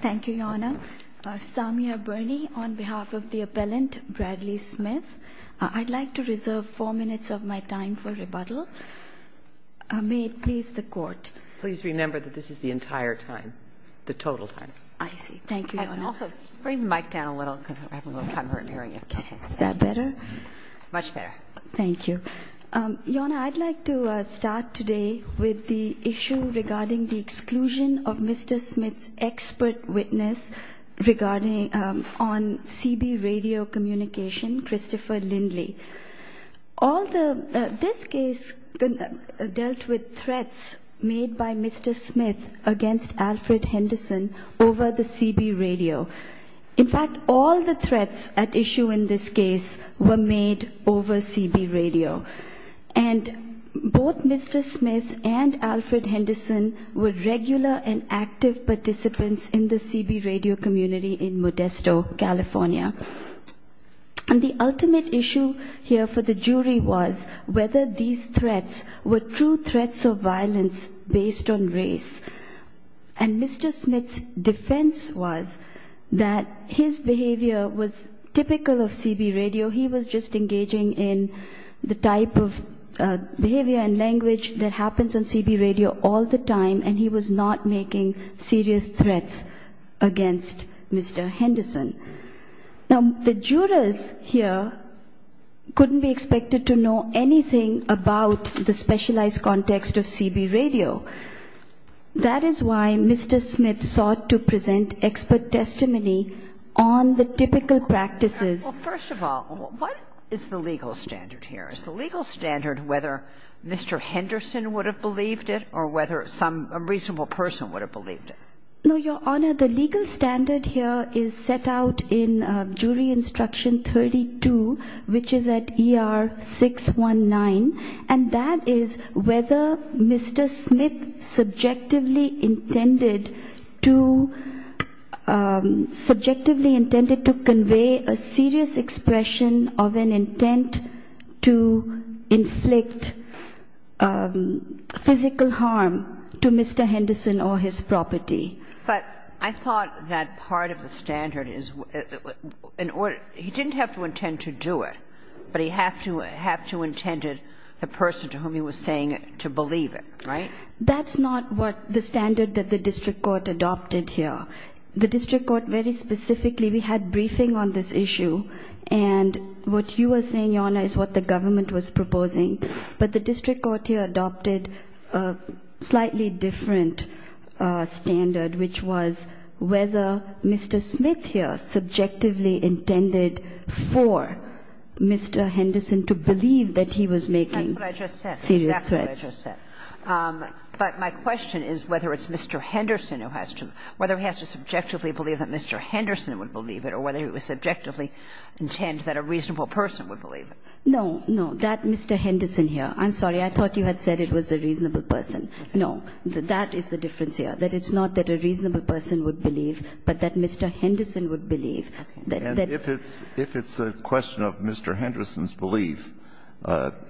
Thank you, Your Honor. Samia Birney on behalf of the appellant, Bradley Smith. I'd like to reserve four minutes of my time for rebuttal. May it please the Court. Please remember that this is the entire time, the total time. I see. Thank you, Your Honor. And also, bring the mic down a little because I have a little camera in here. Is that better? Much better. Thank you. Your Honor, I'd like to start today with the issue regarding the exclusion of Mr. Smith's expert witness on CB radio communication, Christopher Lindley. All the, this case dealt with threats made by Mr. Smith against Alfred Henderson over the CB radio. In fact, all the threats at issue in this case were made over CB radio. And both Mr. Smith and Alfred Henderson were regular and active participants in the CB radio community in Modesto, California. And the ultimate issue here for the jury was whether these threats were true threats of violence based on race. And Mr. Smith's defense was that his behavior was typical of CB radio. He was just engaging in the type of behavior and language that happens on CB radio all the time, and he was not making serious threats against Mr. Henderson. Now, the jurors here couldn't be expected to know anything about the specialized context of CB radio. That is why Mr. Smith sought to present expert testimony on the typical practices. Well, first of all, what is the legal standard here? Is the legal standard whether Mr. Henderson would have believed it or whether some reasonable person would have believed it? No, Your Honor, the legal standard here is set out in Jury Instruction 32, which is at ER 619. And that is whether Mr. Smith subjectively intended to convey a serious expression of an intent to inflict physical harm to Mr. Henderson or his property. But I thought that part of the standard is he didn't have to intend to do it, but he didn't have to intend it, the person to whom he was saying it, to believe it, right? That's not what the standard that the district court adopted here. The district court very specifically, we had briefing on this issue, and what you were saying, Your Honor, is what the government was proposing. But the district court here adopted a slightly different standard, which was whether Mr. Smith here subjectively intended for Mr. Henderson to believe that he was making serious threats. That's what I just said. But my question is whether it's Mr. Henderson who has to believe, whether he has to subjectively believe that Mr. Henderson would believe it or whether he would subjectively intend that a reasonable person would believe it. No, no, that Mr. Henderson here. I'm sorry. I thought you had said it was a reasonable person. No, that is the difference here, that it's not that a reasonable person would believe, but that Mr. Henderson would believe. And if it's a question of Mr. Henderson's belief,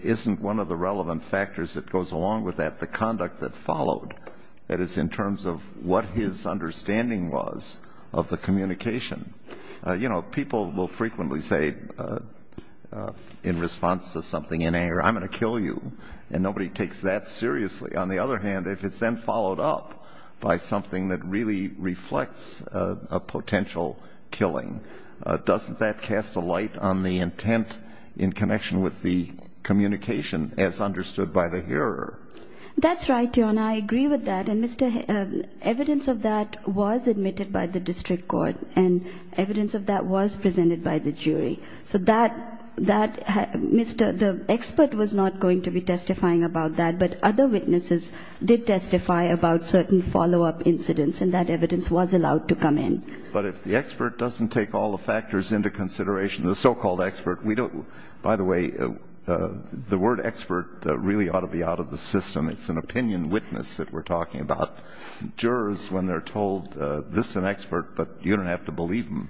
isn't one of the relevant factors that goes along with that the conduct that followed? That is, in terms of what his understanding was of the communication. You know, people will frequently say in response to something in anger, I'm going to kill you, and nobody takes that seriously. On the other hand, if it's then followed up by something that really reflects a potential killing, doesn't that cast a light on the intent in connection with the communication as understood by the hearer? That's right, Your Honor. I agree with that. And, Mr. Henderson, evidence of that was admitted by the district court, and evidence of that was presented by the jury. So that Mr. the expert was not going to be testifying about that, but other witnesses did testify about certain follow-up incidents, and that evidence was allowed to come in. But if the expert doesn't take all the factors into consideration, the so-called expert, we don't by the way, the word expert really ought to be out of the system. It's an opinion witness that we're talking about. Jurors, when they're told this is an expert, but you don't have to believe them,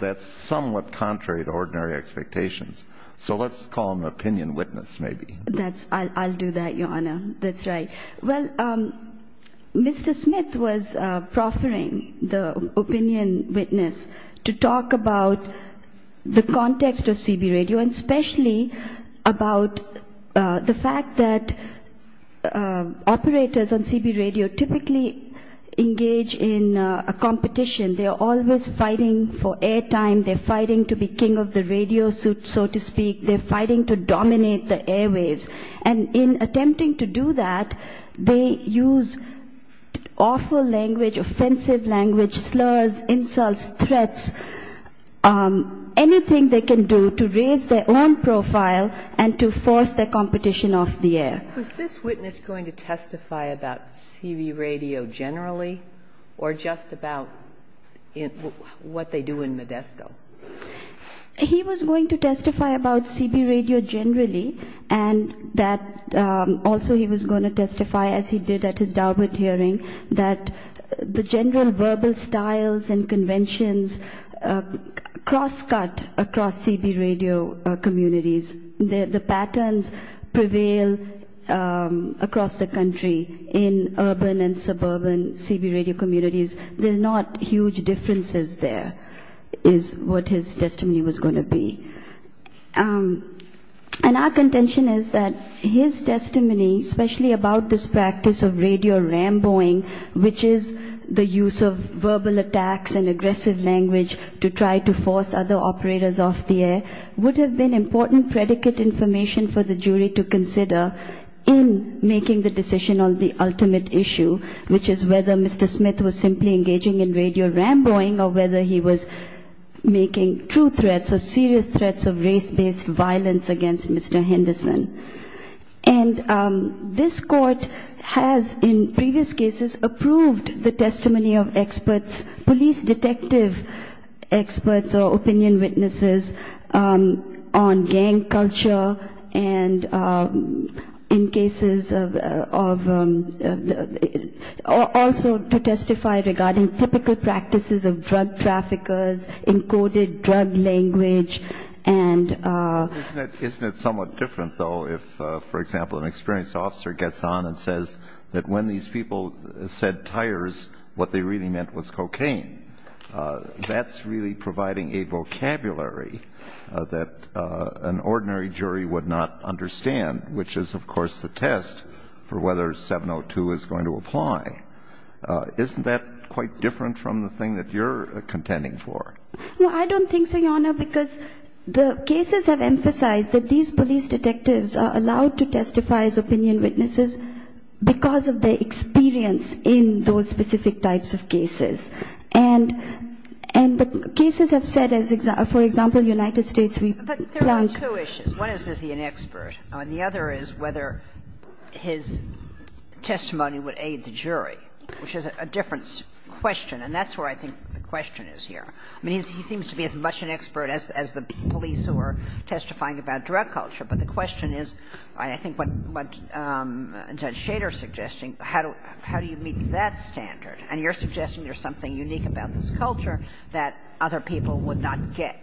that's somewhat contrary to ordinary expectations. So let's call them opinion witness, maybe. I'll do that, Your Honor. That's right. Well, Mr. Smith was proffering the opinion witness to talk about the context of CB radio, and especially about the fact that operators on CB radio typically engage in a competition. They're always fighting for air time. They're fighting to be king of the radio suit, so to speak. They're fighting to dominate the airwaves. And in attempting to do that, they use awful language, offensive language, slurs, insults, threats, anything they can do to raise their own profile and to force their competition off the air. Was this witness going to testify about CB radio generally, or just about what they do in Modesto? He was going to testify about CB radio generally, and that also he was going to testify, as he did at his Daubert hearing, that the general verbal styles and conventions crosscut across CB radio communities. The patterns prevail across the country in urban and suburban CB radio communities. There are not huge differences there, is what his testimony was going to be. And our contention is that his testimony, especially about this practice of radio ramboing, which is the use of verbal attacks and aggressive language to try to force other operators off the air, would have been important predicate information for the jury to consider in making the decision on the ultimate issue, which is whether Mr. Smith was simply engaging in radio ramboing or whether he was making true threats or serious threats of race-based violence against Mr. Henderson. And this court has, in previous cases, approved the testimony of experts, police detective experts or opinion witnesses on gang culture and in cases of also to testify regarding typical practices of drug traffickers, encoded drug language, and... Isn't it somewhat different, though, if, for example, an experienced officer gets on and says that when these people said tires, what they really meant was cocaine? That's really providing a vocabulary that an ordinary jury would not understand, which is, of course, the test for whether 702 is going to apply. Isn't that quite different from the thing that you're contending for? No, I don't think so, Your Honor, because the cases have emphasized that these police detectives are allowed to testify as opinion witnesses because of their experience in those specific types of cases. And the cases have said, for example, United States... But there are two issues. One is, is he an expert? And the other is whether his testimony would aid the jury, which is a different question, and that's where I think the question is here. I mean, he seems to be as much an expert as the police who are testifying about drug culture, but the question is, I think, what Judge Schader is suggesting, how do you meet that standard? And you're suggesting there's something unique about this culture that other people would not get.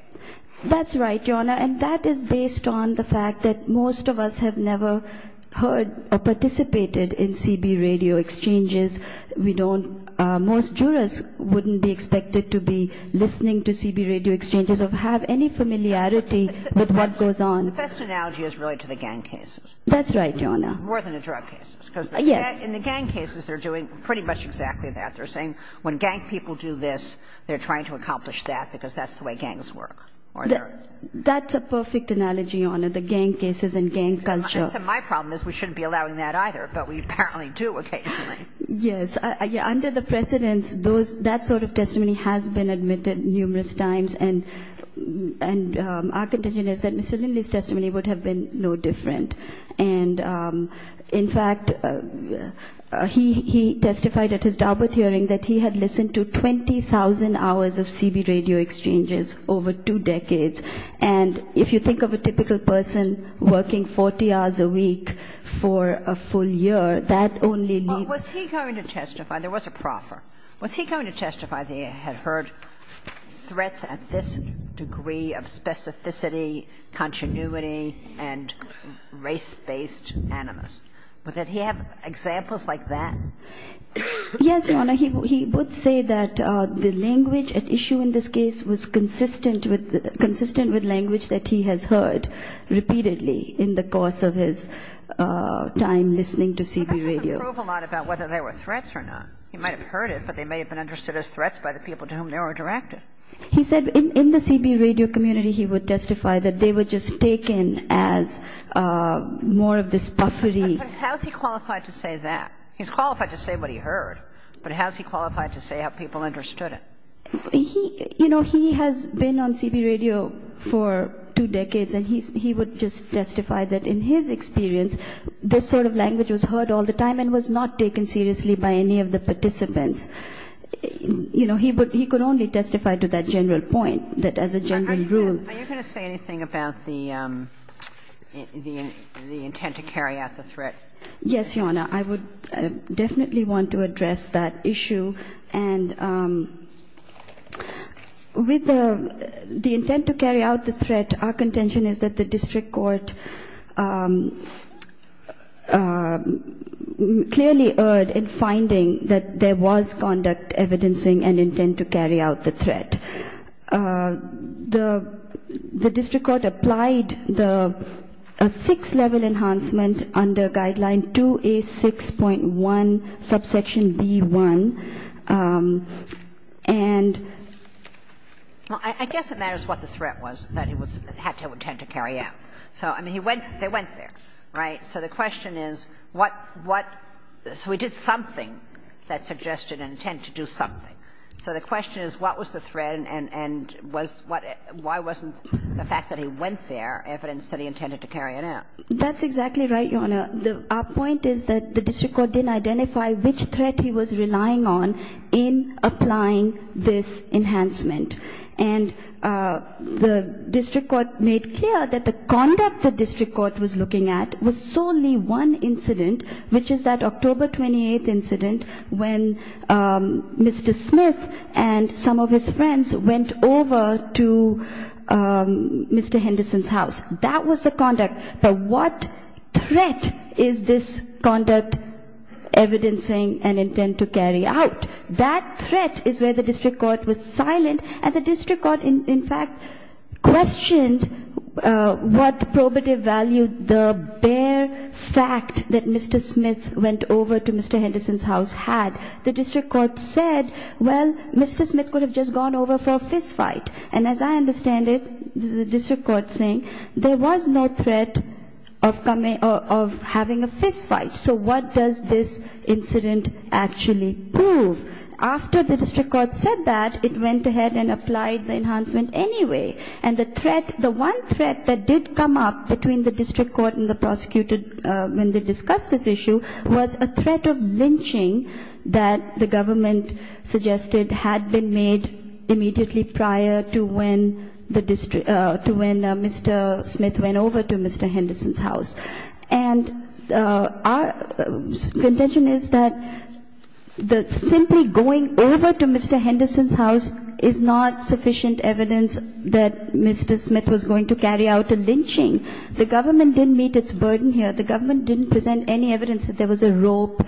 That's right, Your Honor. And that is based on the fact that most of us have never heard or participated in CB radio exchanges. We don't – most jurors wouldn't be expected to be listening to CB radio exchanges or have any familiarity with what goes on. The best analogy is really to the gang cases. That's right, Your Honor. More than the drug cases. Yes. In the gang cases, they're doing pretty much exactly that. They're saying when gang people do this, they're trying to accomplish that because that's the way gangs work. That's a perfect analogy, Your Honor, the gang cases and gang culture. My problem is we shouldn't be allowing that either, but we apparently do occasionally. Yes. Under the precedents, those – that sort of testimony has been admitted numerous times, and our contention is that Mr. Lindley's testimony would have been no different. And, in fact, he testified at his DARPA hearing that he had listened to 20,000 hours of CB radio exchanges over two decades. And if you think of a typical person working 40 hours a week for a full year, that only means – Well, was he going to testify – there was a proffer. Was he going to testify that he had heard threats at this degree of specificity, continuity, and race-based animus? But did he have examples like that? Yes, Your Honor. He would say that the language at issue in this case was consistent with – consistent with language that he has heard repeatedly in the course of his time listening to CB radio. But that doesn't prove a lot about whether there were threats or not. He might have heard it, but they may have been understood as threats by the people to whom they were directed. He said in the CB radio community he would testify that they were just taken as more of this puffery. But how is he qualified to say that? He's qualified to say what he heard, but how is he qualified to say how people understood it? He – you know, he has been on CB radio for two decades, and he would just testify that in his experience, this sort of language was heard all the time and was not taken seriously by any of the participants. You know, he would – he could only testify to that general point, that as a general rule. Are you going to say anything about the – the intent to carry out the threat? Yes, Your Honor. I would definitely want to address that issue. And with the intent to carry out the threat, our contention is that the district court clearly erred in finding that there was conduct, evidencing, and intent to carry out the threat. The district court applied the six-level enhancement under Guideline 2A6.1, subsection B1, and – So, I mean, he went – they went there, right? So the question is, what – what – so he did something that suggested an intent to do something. So the question is, what was the threat, and was what – why wasn't the fact that he went there evidence that he intended to carry it out? That's exactly right, Your Honor. Our point is that the district court didn't identify which threat he was relying on in applying this enhancement. And the district court made clear that the conduct the district court was looking at was solely one incident, which is that October 28th incident when Mr. Smith and some of his friends went over to Mr. Henderson's house. That was the conduct. But what threat is this conduct evidencing an intent to carry out? That threat is where the district court was silent, and the district court, in fact, questioned what probative value the bare fact that Mr. Smith went over to Mr. Henderson's house had. The district court said, well, Mr. Smith could have just gone over for a fistfight. And as I understand it, this is the district court saying, there was no threat of coming – of having a fistfight. So what does this incident actually prove? After the district court said that, it went ahead and applied the enhancement anyway. And the threat – the one threat that did come up between the district court and the prosecutor when they discussed this issue was a threat of lynching that the government suggested had been made immediately prior to when the district – to when Mr. Smith went over to Mr. Henderson's house. And our contention is that simply going over to Mr. Henderson's house is not sufficient evidence that Mr. Smith was going to carry out a lynching. The government didn't meet its burden here. The government didn't present any evidence that there was a rope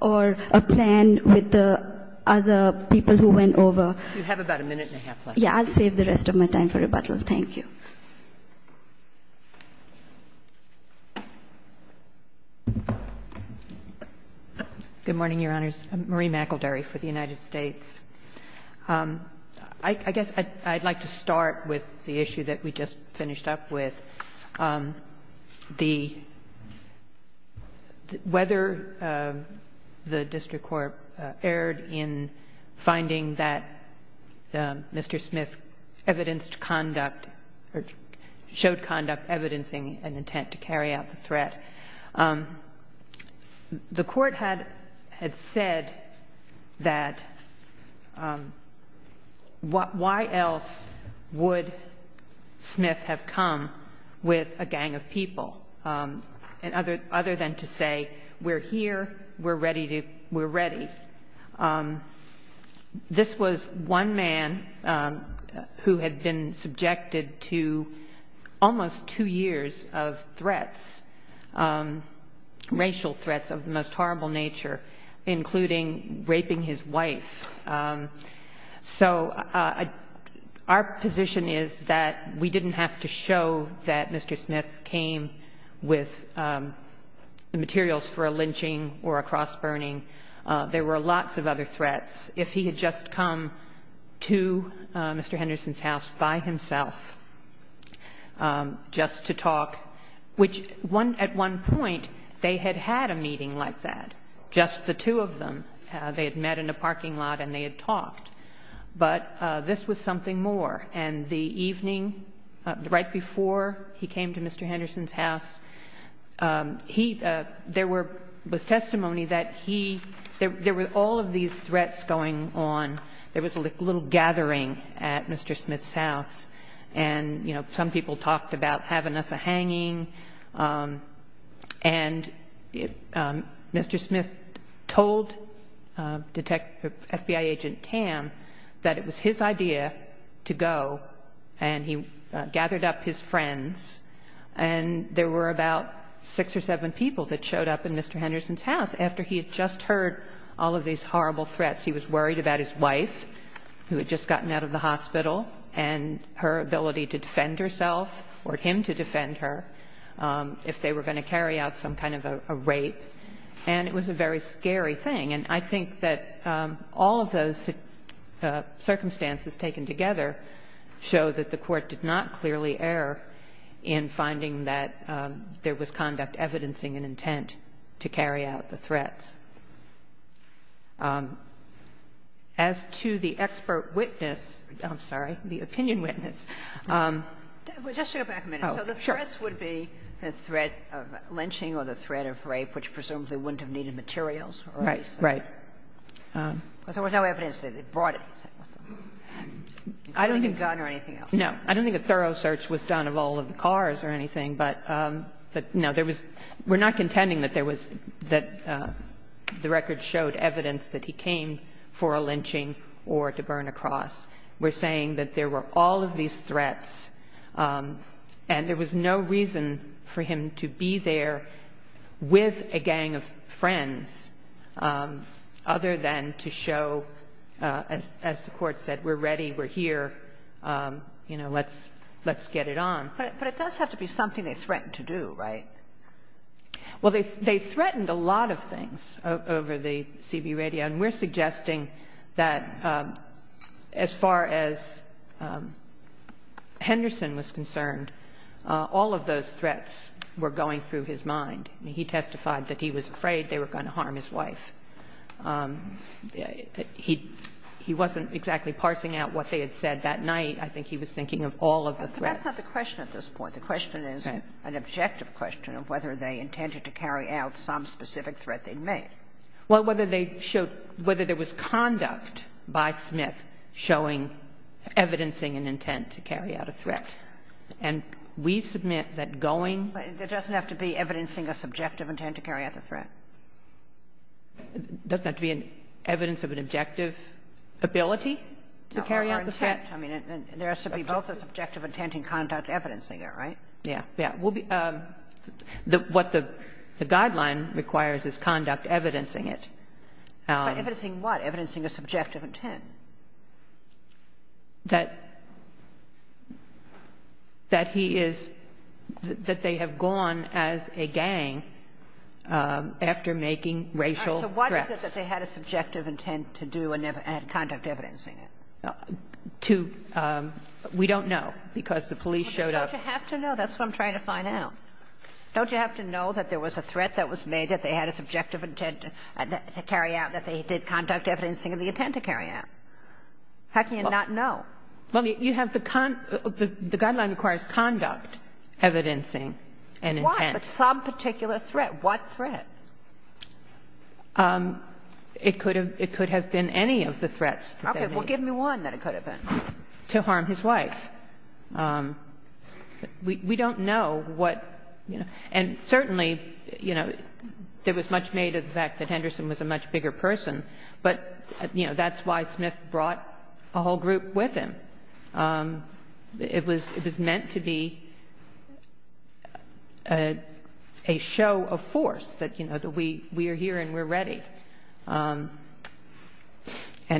or a plan with the other people who went over. You have about a minute and a half left. Yes. I'll save the rest of my time for rebuttal. Thank you. McElderry. Good morning, Your Honors. I'm Marie McElderry for the United States. I guess I'd like to start with the issue that we just finished up with. The – whether the district court erred in finding that Mr. Smith evidenced conduct or showed conduct evidencing an intent to carry out the threat. The court had said that why else would Smith have come with a gang of people, other than to say, we're here, we're ready. This was one man who had been subjected to almost two years of threats, racial threats of the most horrible nature, including raping his wife. So our position is that we didn't have to show that Mr. Smith came with the threats if he had just come to Mr. Henderson's house by himself just to talk, which at one point they had had a meeting like that, just the two of them. They had met in a parking lot and they had talked. But this was something more. And the evening right before he came to Mr. Henderson's house, there was testimony that he – there were all of these threats going on. There was a little gathering at Mr. Smith's house, and some people talked about having us a hanging. And Mr. Smith told FBI agent Tam that it was his idea to go, and he gathered up his friends. And there were about six or seven people that showed up in Mr. Henderson's house after he had just heard all of these horrible threats. He was worried about his wife who had just gotten out of the hospital and her ability to defend herself or him to defend her if they were going to carry out some kind of a rape. And it was a very scary thing. And I think that all of those circumstances taken together show that the Court did not clearly err in finding that there was conduct evidencing an intent to carry out the threats. As to the expert witness – I'm sorry, the opinion witness. Ginsburg. Well, just to go back a minute. Oh, sure. So the threats would be the threat of lynching or the threat of rape, which presumably wouldn't have needed materials? Right. Right. Because there was no evidence that it brought it. I don't think it's done or anything else. No. I don't think a thorough search was done of all of the cars or anything. But, no, there was – we're not contending that there was – that the records showed evidence that he came for a lynching or to burn a cross. We're saying that there were all of these threats, and there was no reason for him to be there with a gang of friends other than to show, as the Court said, we're ready, we're here, you know, let's get it on. But it does have to be something they threatened to do, right? Well, they threatened a lot of things over the CB radio, and we're suggesting that as far as Henderson was concerned, all of those threats were going through his mind. He testified that he was afraid they were going to harm his wife. He wasn't exactly parsing out what they had said that night. I think he was thinking of all of the threats. But that's not the question at this point. The question is an objective question of whether they intended to carry out some specific threat they'd made. Well, whether they showed – whether there was conduct by Smith showing – evidencing an intent to carry out a threat. And we submit that going – But it doesn't have to be evidencing a subjective intent to carry out the threat. It doesn't have to be evidence of an objective ability to carry out the threat. I mean, there has to be both a subjective intent and conduct evidencing it, right? Yeah. Yeah. What the guideline requires is conduct evidencing it. By evidencing what? Evidencing a subjective intent. That – that he is – that they have gone as a gang after making racial threats. All right. So why do you say that they had a subjective intent to do and had conduct evidencing it? To – we don't know, because the police showed up – But don't you have to know? That's what I'm trying to find out. Don't you have to know that there was a threat that was made, that they had a subjective intent to carry out, that they did conduct evidencing of the intent to carry out? How can you not know? Well, you have the – the guideline requires conduct evidencing an intent. Why? But some particular threat. What threat? It could have – it could have been any of the threats. Okay. Well, give me one that it could have been. To harm his wife. We don't know what – and certainly, you know, there was much made of the fact that Mr. Smith brought a whole group with him. It was meant to be a show of force that, you know, that we are here and we're ready. And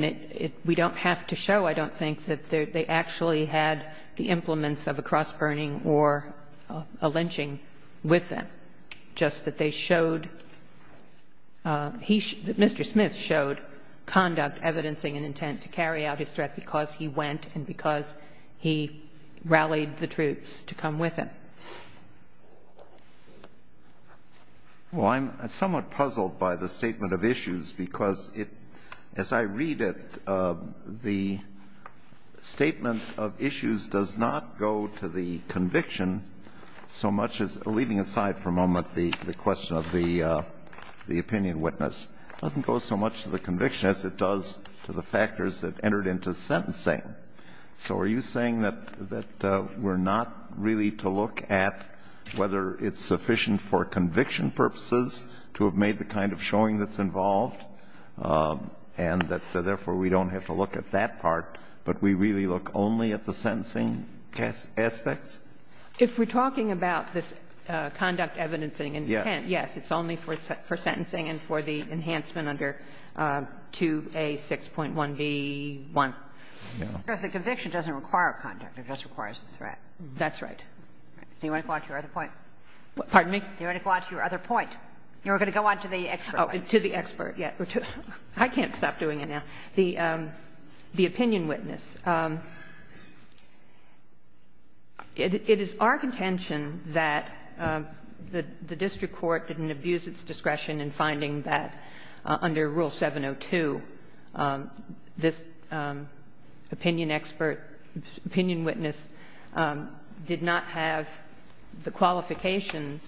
it – we don't have to show, I don't think, that they actually had the implements of a cross-burning or a lynching with them, just that they showed – he – Mr. Smith did conduct evidence of the intent to carry out his threat because he went and because he rallied the troops to come with him. Well, I'm somewhat puzzled by the statement of issues because it – as I read it, the statement of issues does not go to the conviction so much as – leaving aside for a moment the question of the opinion witness – it doesn't go so much to the conviction as it does to the factors that entered into sentencing. So are you saying that we're not really to look at whether it's sufficient for conviction purposes to have made the kind of showing that's involved and that, therefore, we don't have to look at that part, but we really look only at the sentencing aspects? If we're talking about this conduct evidencing and intent, yes, it's only for sentencing and for the enhancement under 2A6.1b1. No. Because the conviction doesn't require conduct. It just requires a threat. That's right. Do you want to go on to your other point? Pardon me? Do you want to go on to your other point? You were going to go on to the expert. Oh, to the expert, yes. I can't stop doing it now. The opinion witness. It is our contention that the district court didn't abuse its discretion in finding that under Rule 702, this opinion expert, opinion witness did not have the qualifications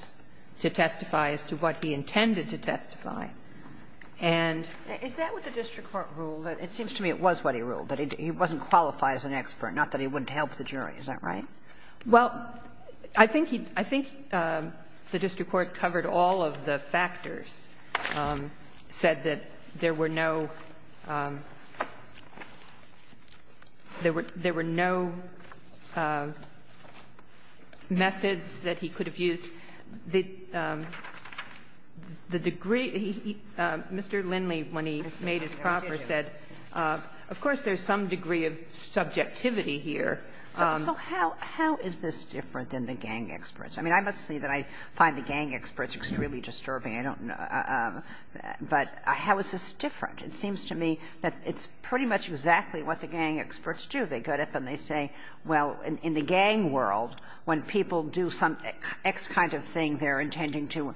to testify as to what he intended to testify. Is that what the district court ruled? It seems to me it was what he ruled, that he wasn't qualified as an expert, not that he wouldn't help the jury. Is that right? Well, I think he — I think the district court covered all of the factors, said that there were no — there were no methods that he could have used. The degree — Mr. Lindley, when he made his proffer, said, of course, there's some degree of subjectivity here. So how is this different than the gang experts? I mean, I must say that I find the gang experts extremely disturbing. I don't know. But how is this different? It seems to me that it's pretty much exactly what the gang experts do. They go up and they say, well, in the gang world, when people do some X kind of thing, they're intending to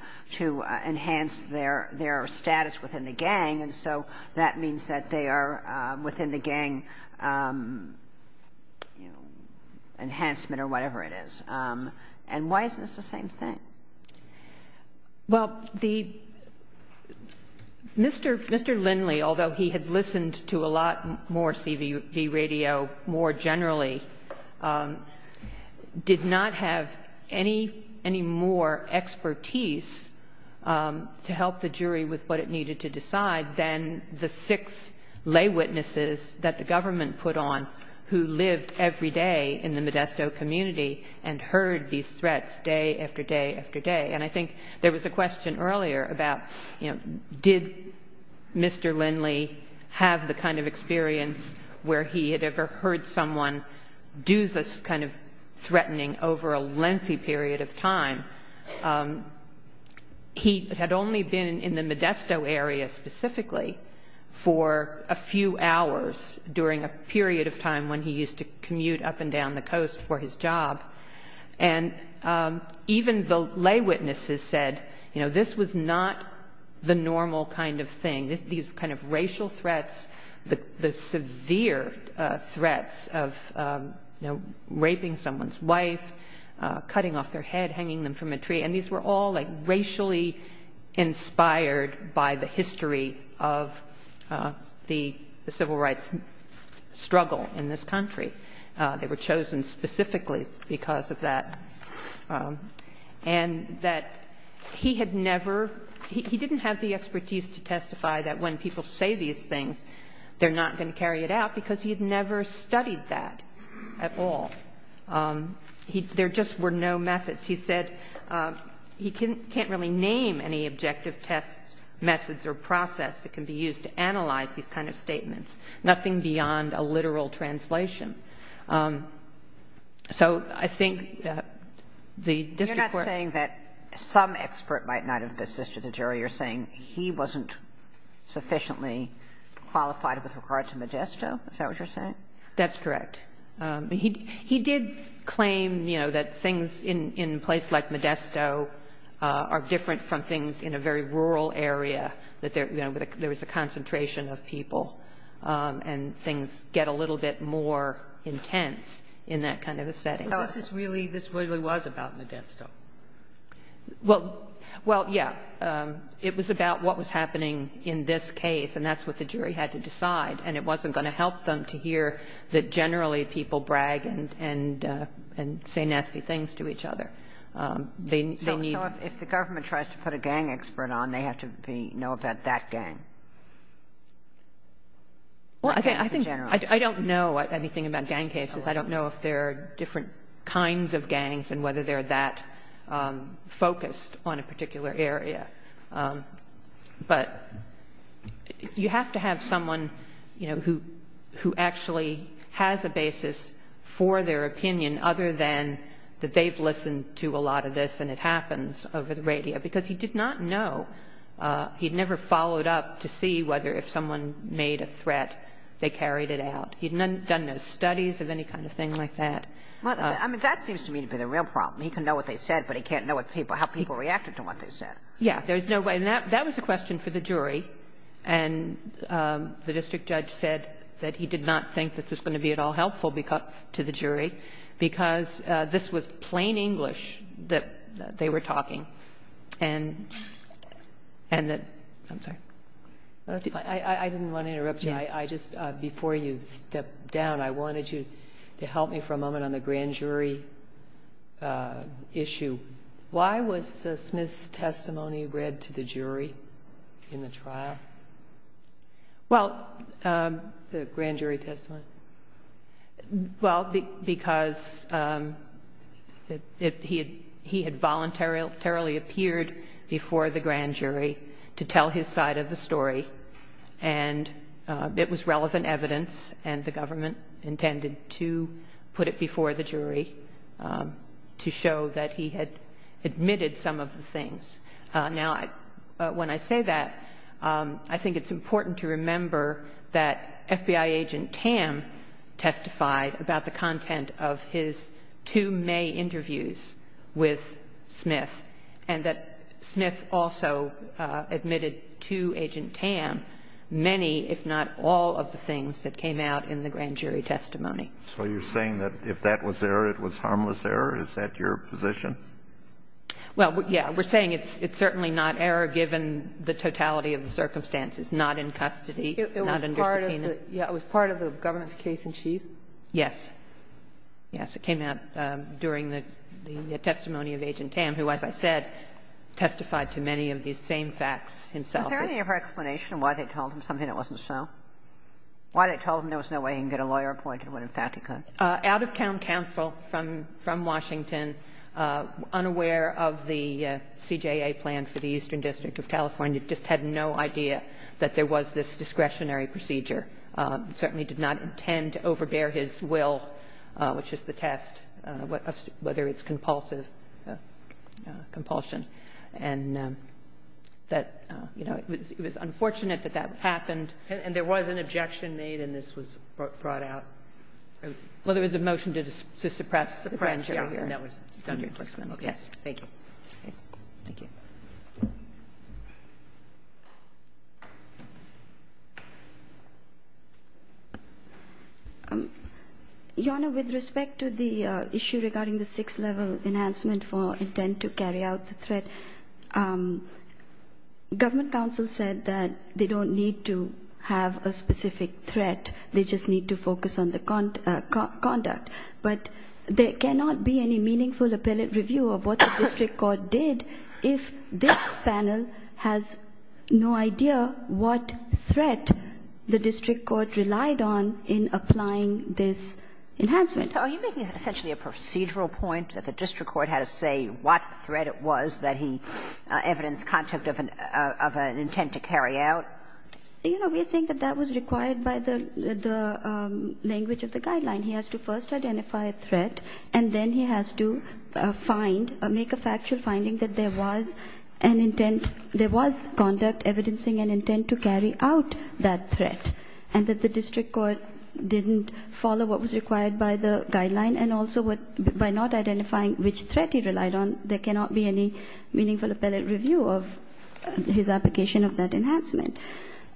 enhance their status within the gang, and so that means that they are within the gang enhancement or whatever it is. And why isn't this the same thing? Well, the — Mr. Lindley, although he had listened to a lot more CB radio more generally, did not have any more expertise to help the jury with what it needed to decide than the six lay witnesses that the government put on who lived every day in the Modesto community and heard these threats day after day after day. And I think there was a question earlier about, you know, did Mr. Lindley have the kind of experience where he had ever heard someone do this kind of threatening over a lengthy period of time. He had only been in the Modesto area specifically for a few hours during a period of time when he used to commute up and down the coast for his job. And even the lay witnesses said, you know, this was not the normal kind of thing. These kind of racial threats, the severe threats of, you know, raping someone's wife, cutting off their head, hanging them from a tree. And these were all, like, racially inspired by the history of the civil rights struggle in this country. They were chosen specifically because of that. And that he had never — he didn't have the expertise to testify that when people say these things, they're not going to carry it out because he had never studied that at all. There just were no methods. He said he can't really name any objective tests, methods, or process that can be used to analyze these kind of statements. Nothing beyond a literal translation. So I think the district court — You're not saying that some expert might not have assisted the jury. You're saying he wasn't sufficiently qualified with regard to Modesto? Is that what you're saying? That's correct. He did claim, you know, that things in a place like Modesto are different from things in a very rural area, that there was a concentration of people, and things get a little bit more intense in that kind of a setting. So this really was about Modesto? Well, yeah. It was about what was happening in this case, and that's what the jury had to decide. And it wasn't going to help them to hear that generally people brag and say nasty things to each other. So if the government tries to put a gang expert on, they have to know about that gang? Well, I don't know anything about gang cases. I don't know if there are different kinds of gangs and whether they're that focused on a particular area. But you have to have someone, you know, who actually has a basis for their opinion other than that they've listened to a lot of this and it happens over the radio, because he did not know. He had never followed up to see whether if someone made a threat, they carried it out. He had done no studies of any kind of thing like that. Well, I mean, that seems to me to be the real problem. He can know what they said, but he can't know how people reacted to what they said. Yeah, there's no way. And that was a question for the jury. And the district judge said that he did not think this was going to be at all helpful to the jury because this was plain English that they were talking. And that – I'm sorry. I didn't want to interrupt you. I just – before you step down, I wanted you to help me for a moment on the grand jury issue. Why was Smith's testimony read to the jury in the trial? Well – The grand jury testimony. Well, because he had voluntarily appeared before the grand jury to tell his side of the story. And it was relevant evidence, and the government intended to put it before the jury to show that he had admitted some of the things. Now, when I say that, I think it's important to remember that FBI agent Tam testified about the content of his two May interviews with Smith, and that Smith also admitted to agent Tam many, if not all, of the things that came out in the grand jury testimony. So you're saying that if that was error, it was harmless error? Is that your position? Well, yeah. We're saying it's certainly not error given the totality of the circumstances, not in custody, not under subpoena. It was part of the government's case-in-chief? Yes. Yes. It came out during the testimony of agent Tam, who, as I said, testified to many of these same facts himself. Is there any other explanation why they told him something that wasn't so? Why they told him there was no way he could get a lawyer appointed when, in fact, he could? Out-of-town counsel from Washington, unaware of the CJA plan for the Eastern District of California, just had no idea that there was this discretionary procedure. Certainly did not intend to overbear his will, which is the test, whether it's compulsive, compulsion. And that, you know, it was unfortunate that that happened. And there was an objection made, and this was brought out. Well, there was a motion to suppress. Suppress, yeah. And that was done in this case. Thank you. Thank you. Your Honor, with respect to the issue regarding the sixth-level enhancement for intent to carry out the threat, government counsel said that they don't need to have a specific threat. They just need to focus on the conduct. But there cannot be any meaningful appellate review of what the district court did if this panel has no idea what threat the district court relied on in applying this enhancement. So are you making essentially a procedural point that the district court had to say what threat it was that he evidenced conduct of an intent to carry out? You know, we think that that was required by the language of the guideline. He has to first identify a threat, and then he has to find, make a factual finding that there was an intent, there was conduct evidencing an intent to carry out that threat, and that the district court didn't follow what was required by the guideline and also by not identifying which threat he relied on, there cannot be any meaningful appellate review of his application of that enhancement.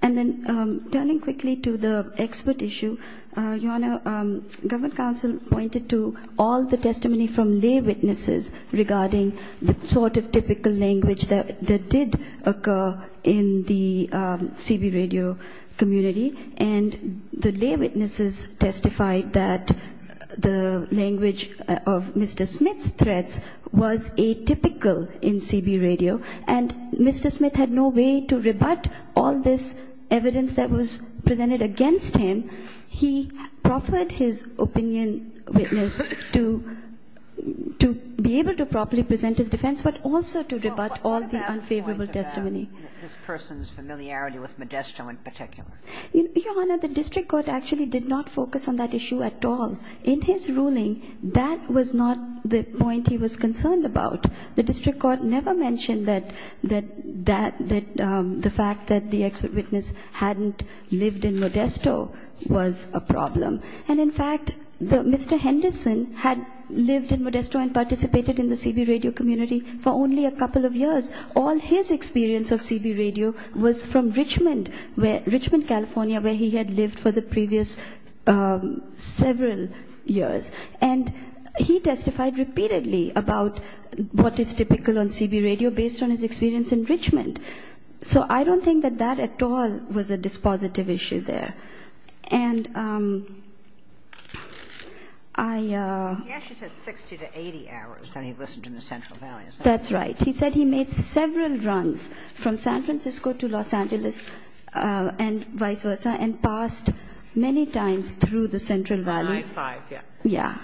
And then turning quickly to the expert issue, Your Honor, government counsel pointed to all the testimony from lay witnesses regarding the sort of typical language that did occur in the CB radio community. And the lay witnesses testified that the language of Mr. Smith's threats was atypical in CB radio, and Mr. Smith had no way to rebut all this evidence that was presented against him. He proffered his opinion witness to be able to properly present his defense but also to rebut all the unfavorable testimony. This person's familiarity with Modesto in particular. Your Honor, the district court actually did not focus on that issue at all. In his ruling, that was not the point he was concerned about. The district court never mentioned that the fact that the expert witness hadn't lived in Modesto was a problem. And in fact, Mr. Henderson had lived in Modesto and participated in the CB radio community for only a couple of years. All his experience of CB radio was from Richmond, California, where he had lived for the previous several years. And he testified repeatedly about what is typical on CB radio based on his experience in Richmond. So I don't think that that at all was a dispositive issue there. And I... He actually said 60 to 80 hours that he listened in the Central Valley. That's right. He said he made several runs from San Francisco to Los Angeles and vice versa, and passed many times through the Central Valley. Nine, five, yeah. Yeah.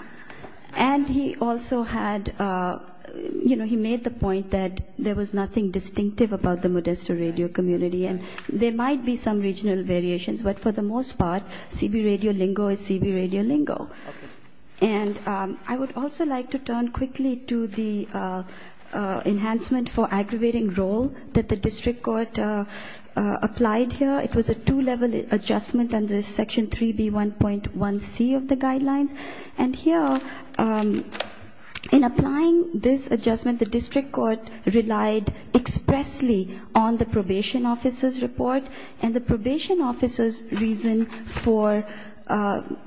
And he also had, you know, he made the point that there was nothing distinctive about the Modesto radio community. And there might be some regional variations, but for the most part, CB radio lingo is CB radio lingo. Okay. And I would also like to turn quickly to the enhancement for aggravating role that the district court applied here. It was a two-level adjustment under Section 3B1.1C of the guidelines. And here, in applying this adjustment, the district court relied expressly on the probation officer's report. And the probation officer's reason for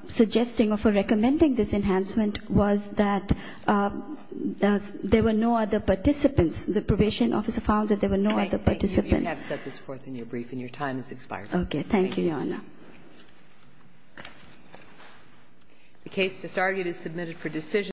suggesting or for recommending this enhancement was that there were no other participants. The probation officer found that there were no other participants. All right. Thank you. You have set this forth in your brief, and your time has expired. Okay. Thank you, Your Honor. Thank you. The case disargued is submitted for decision.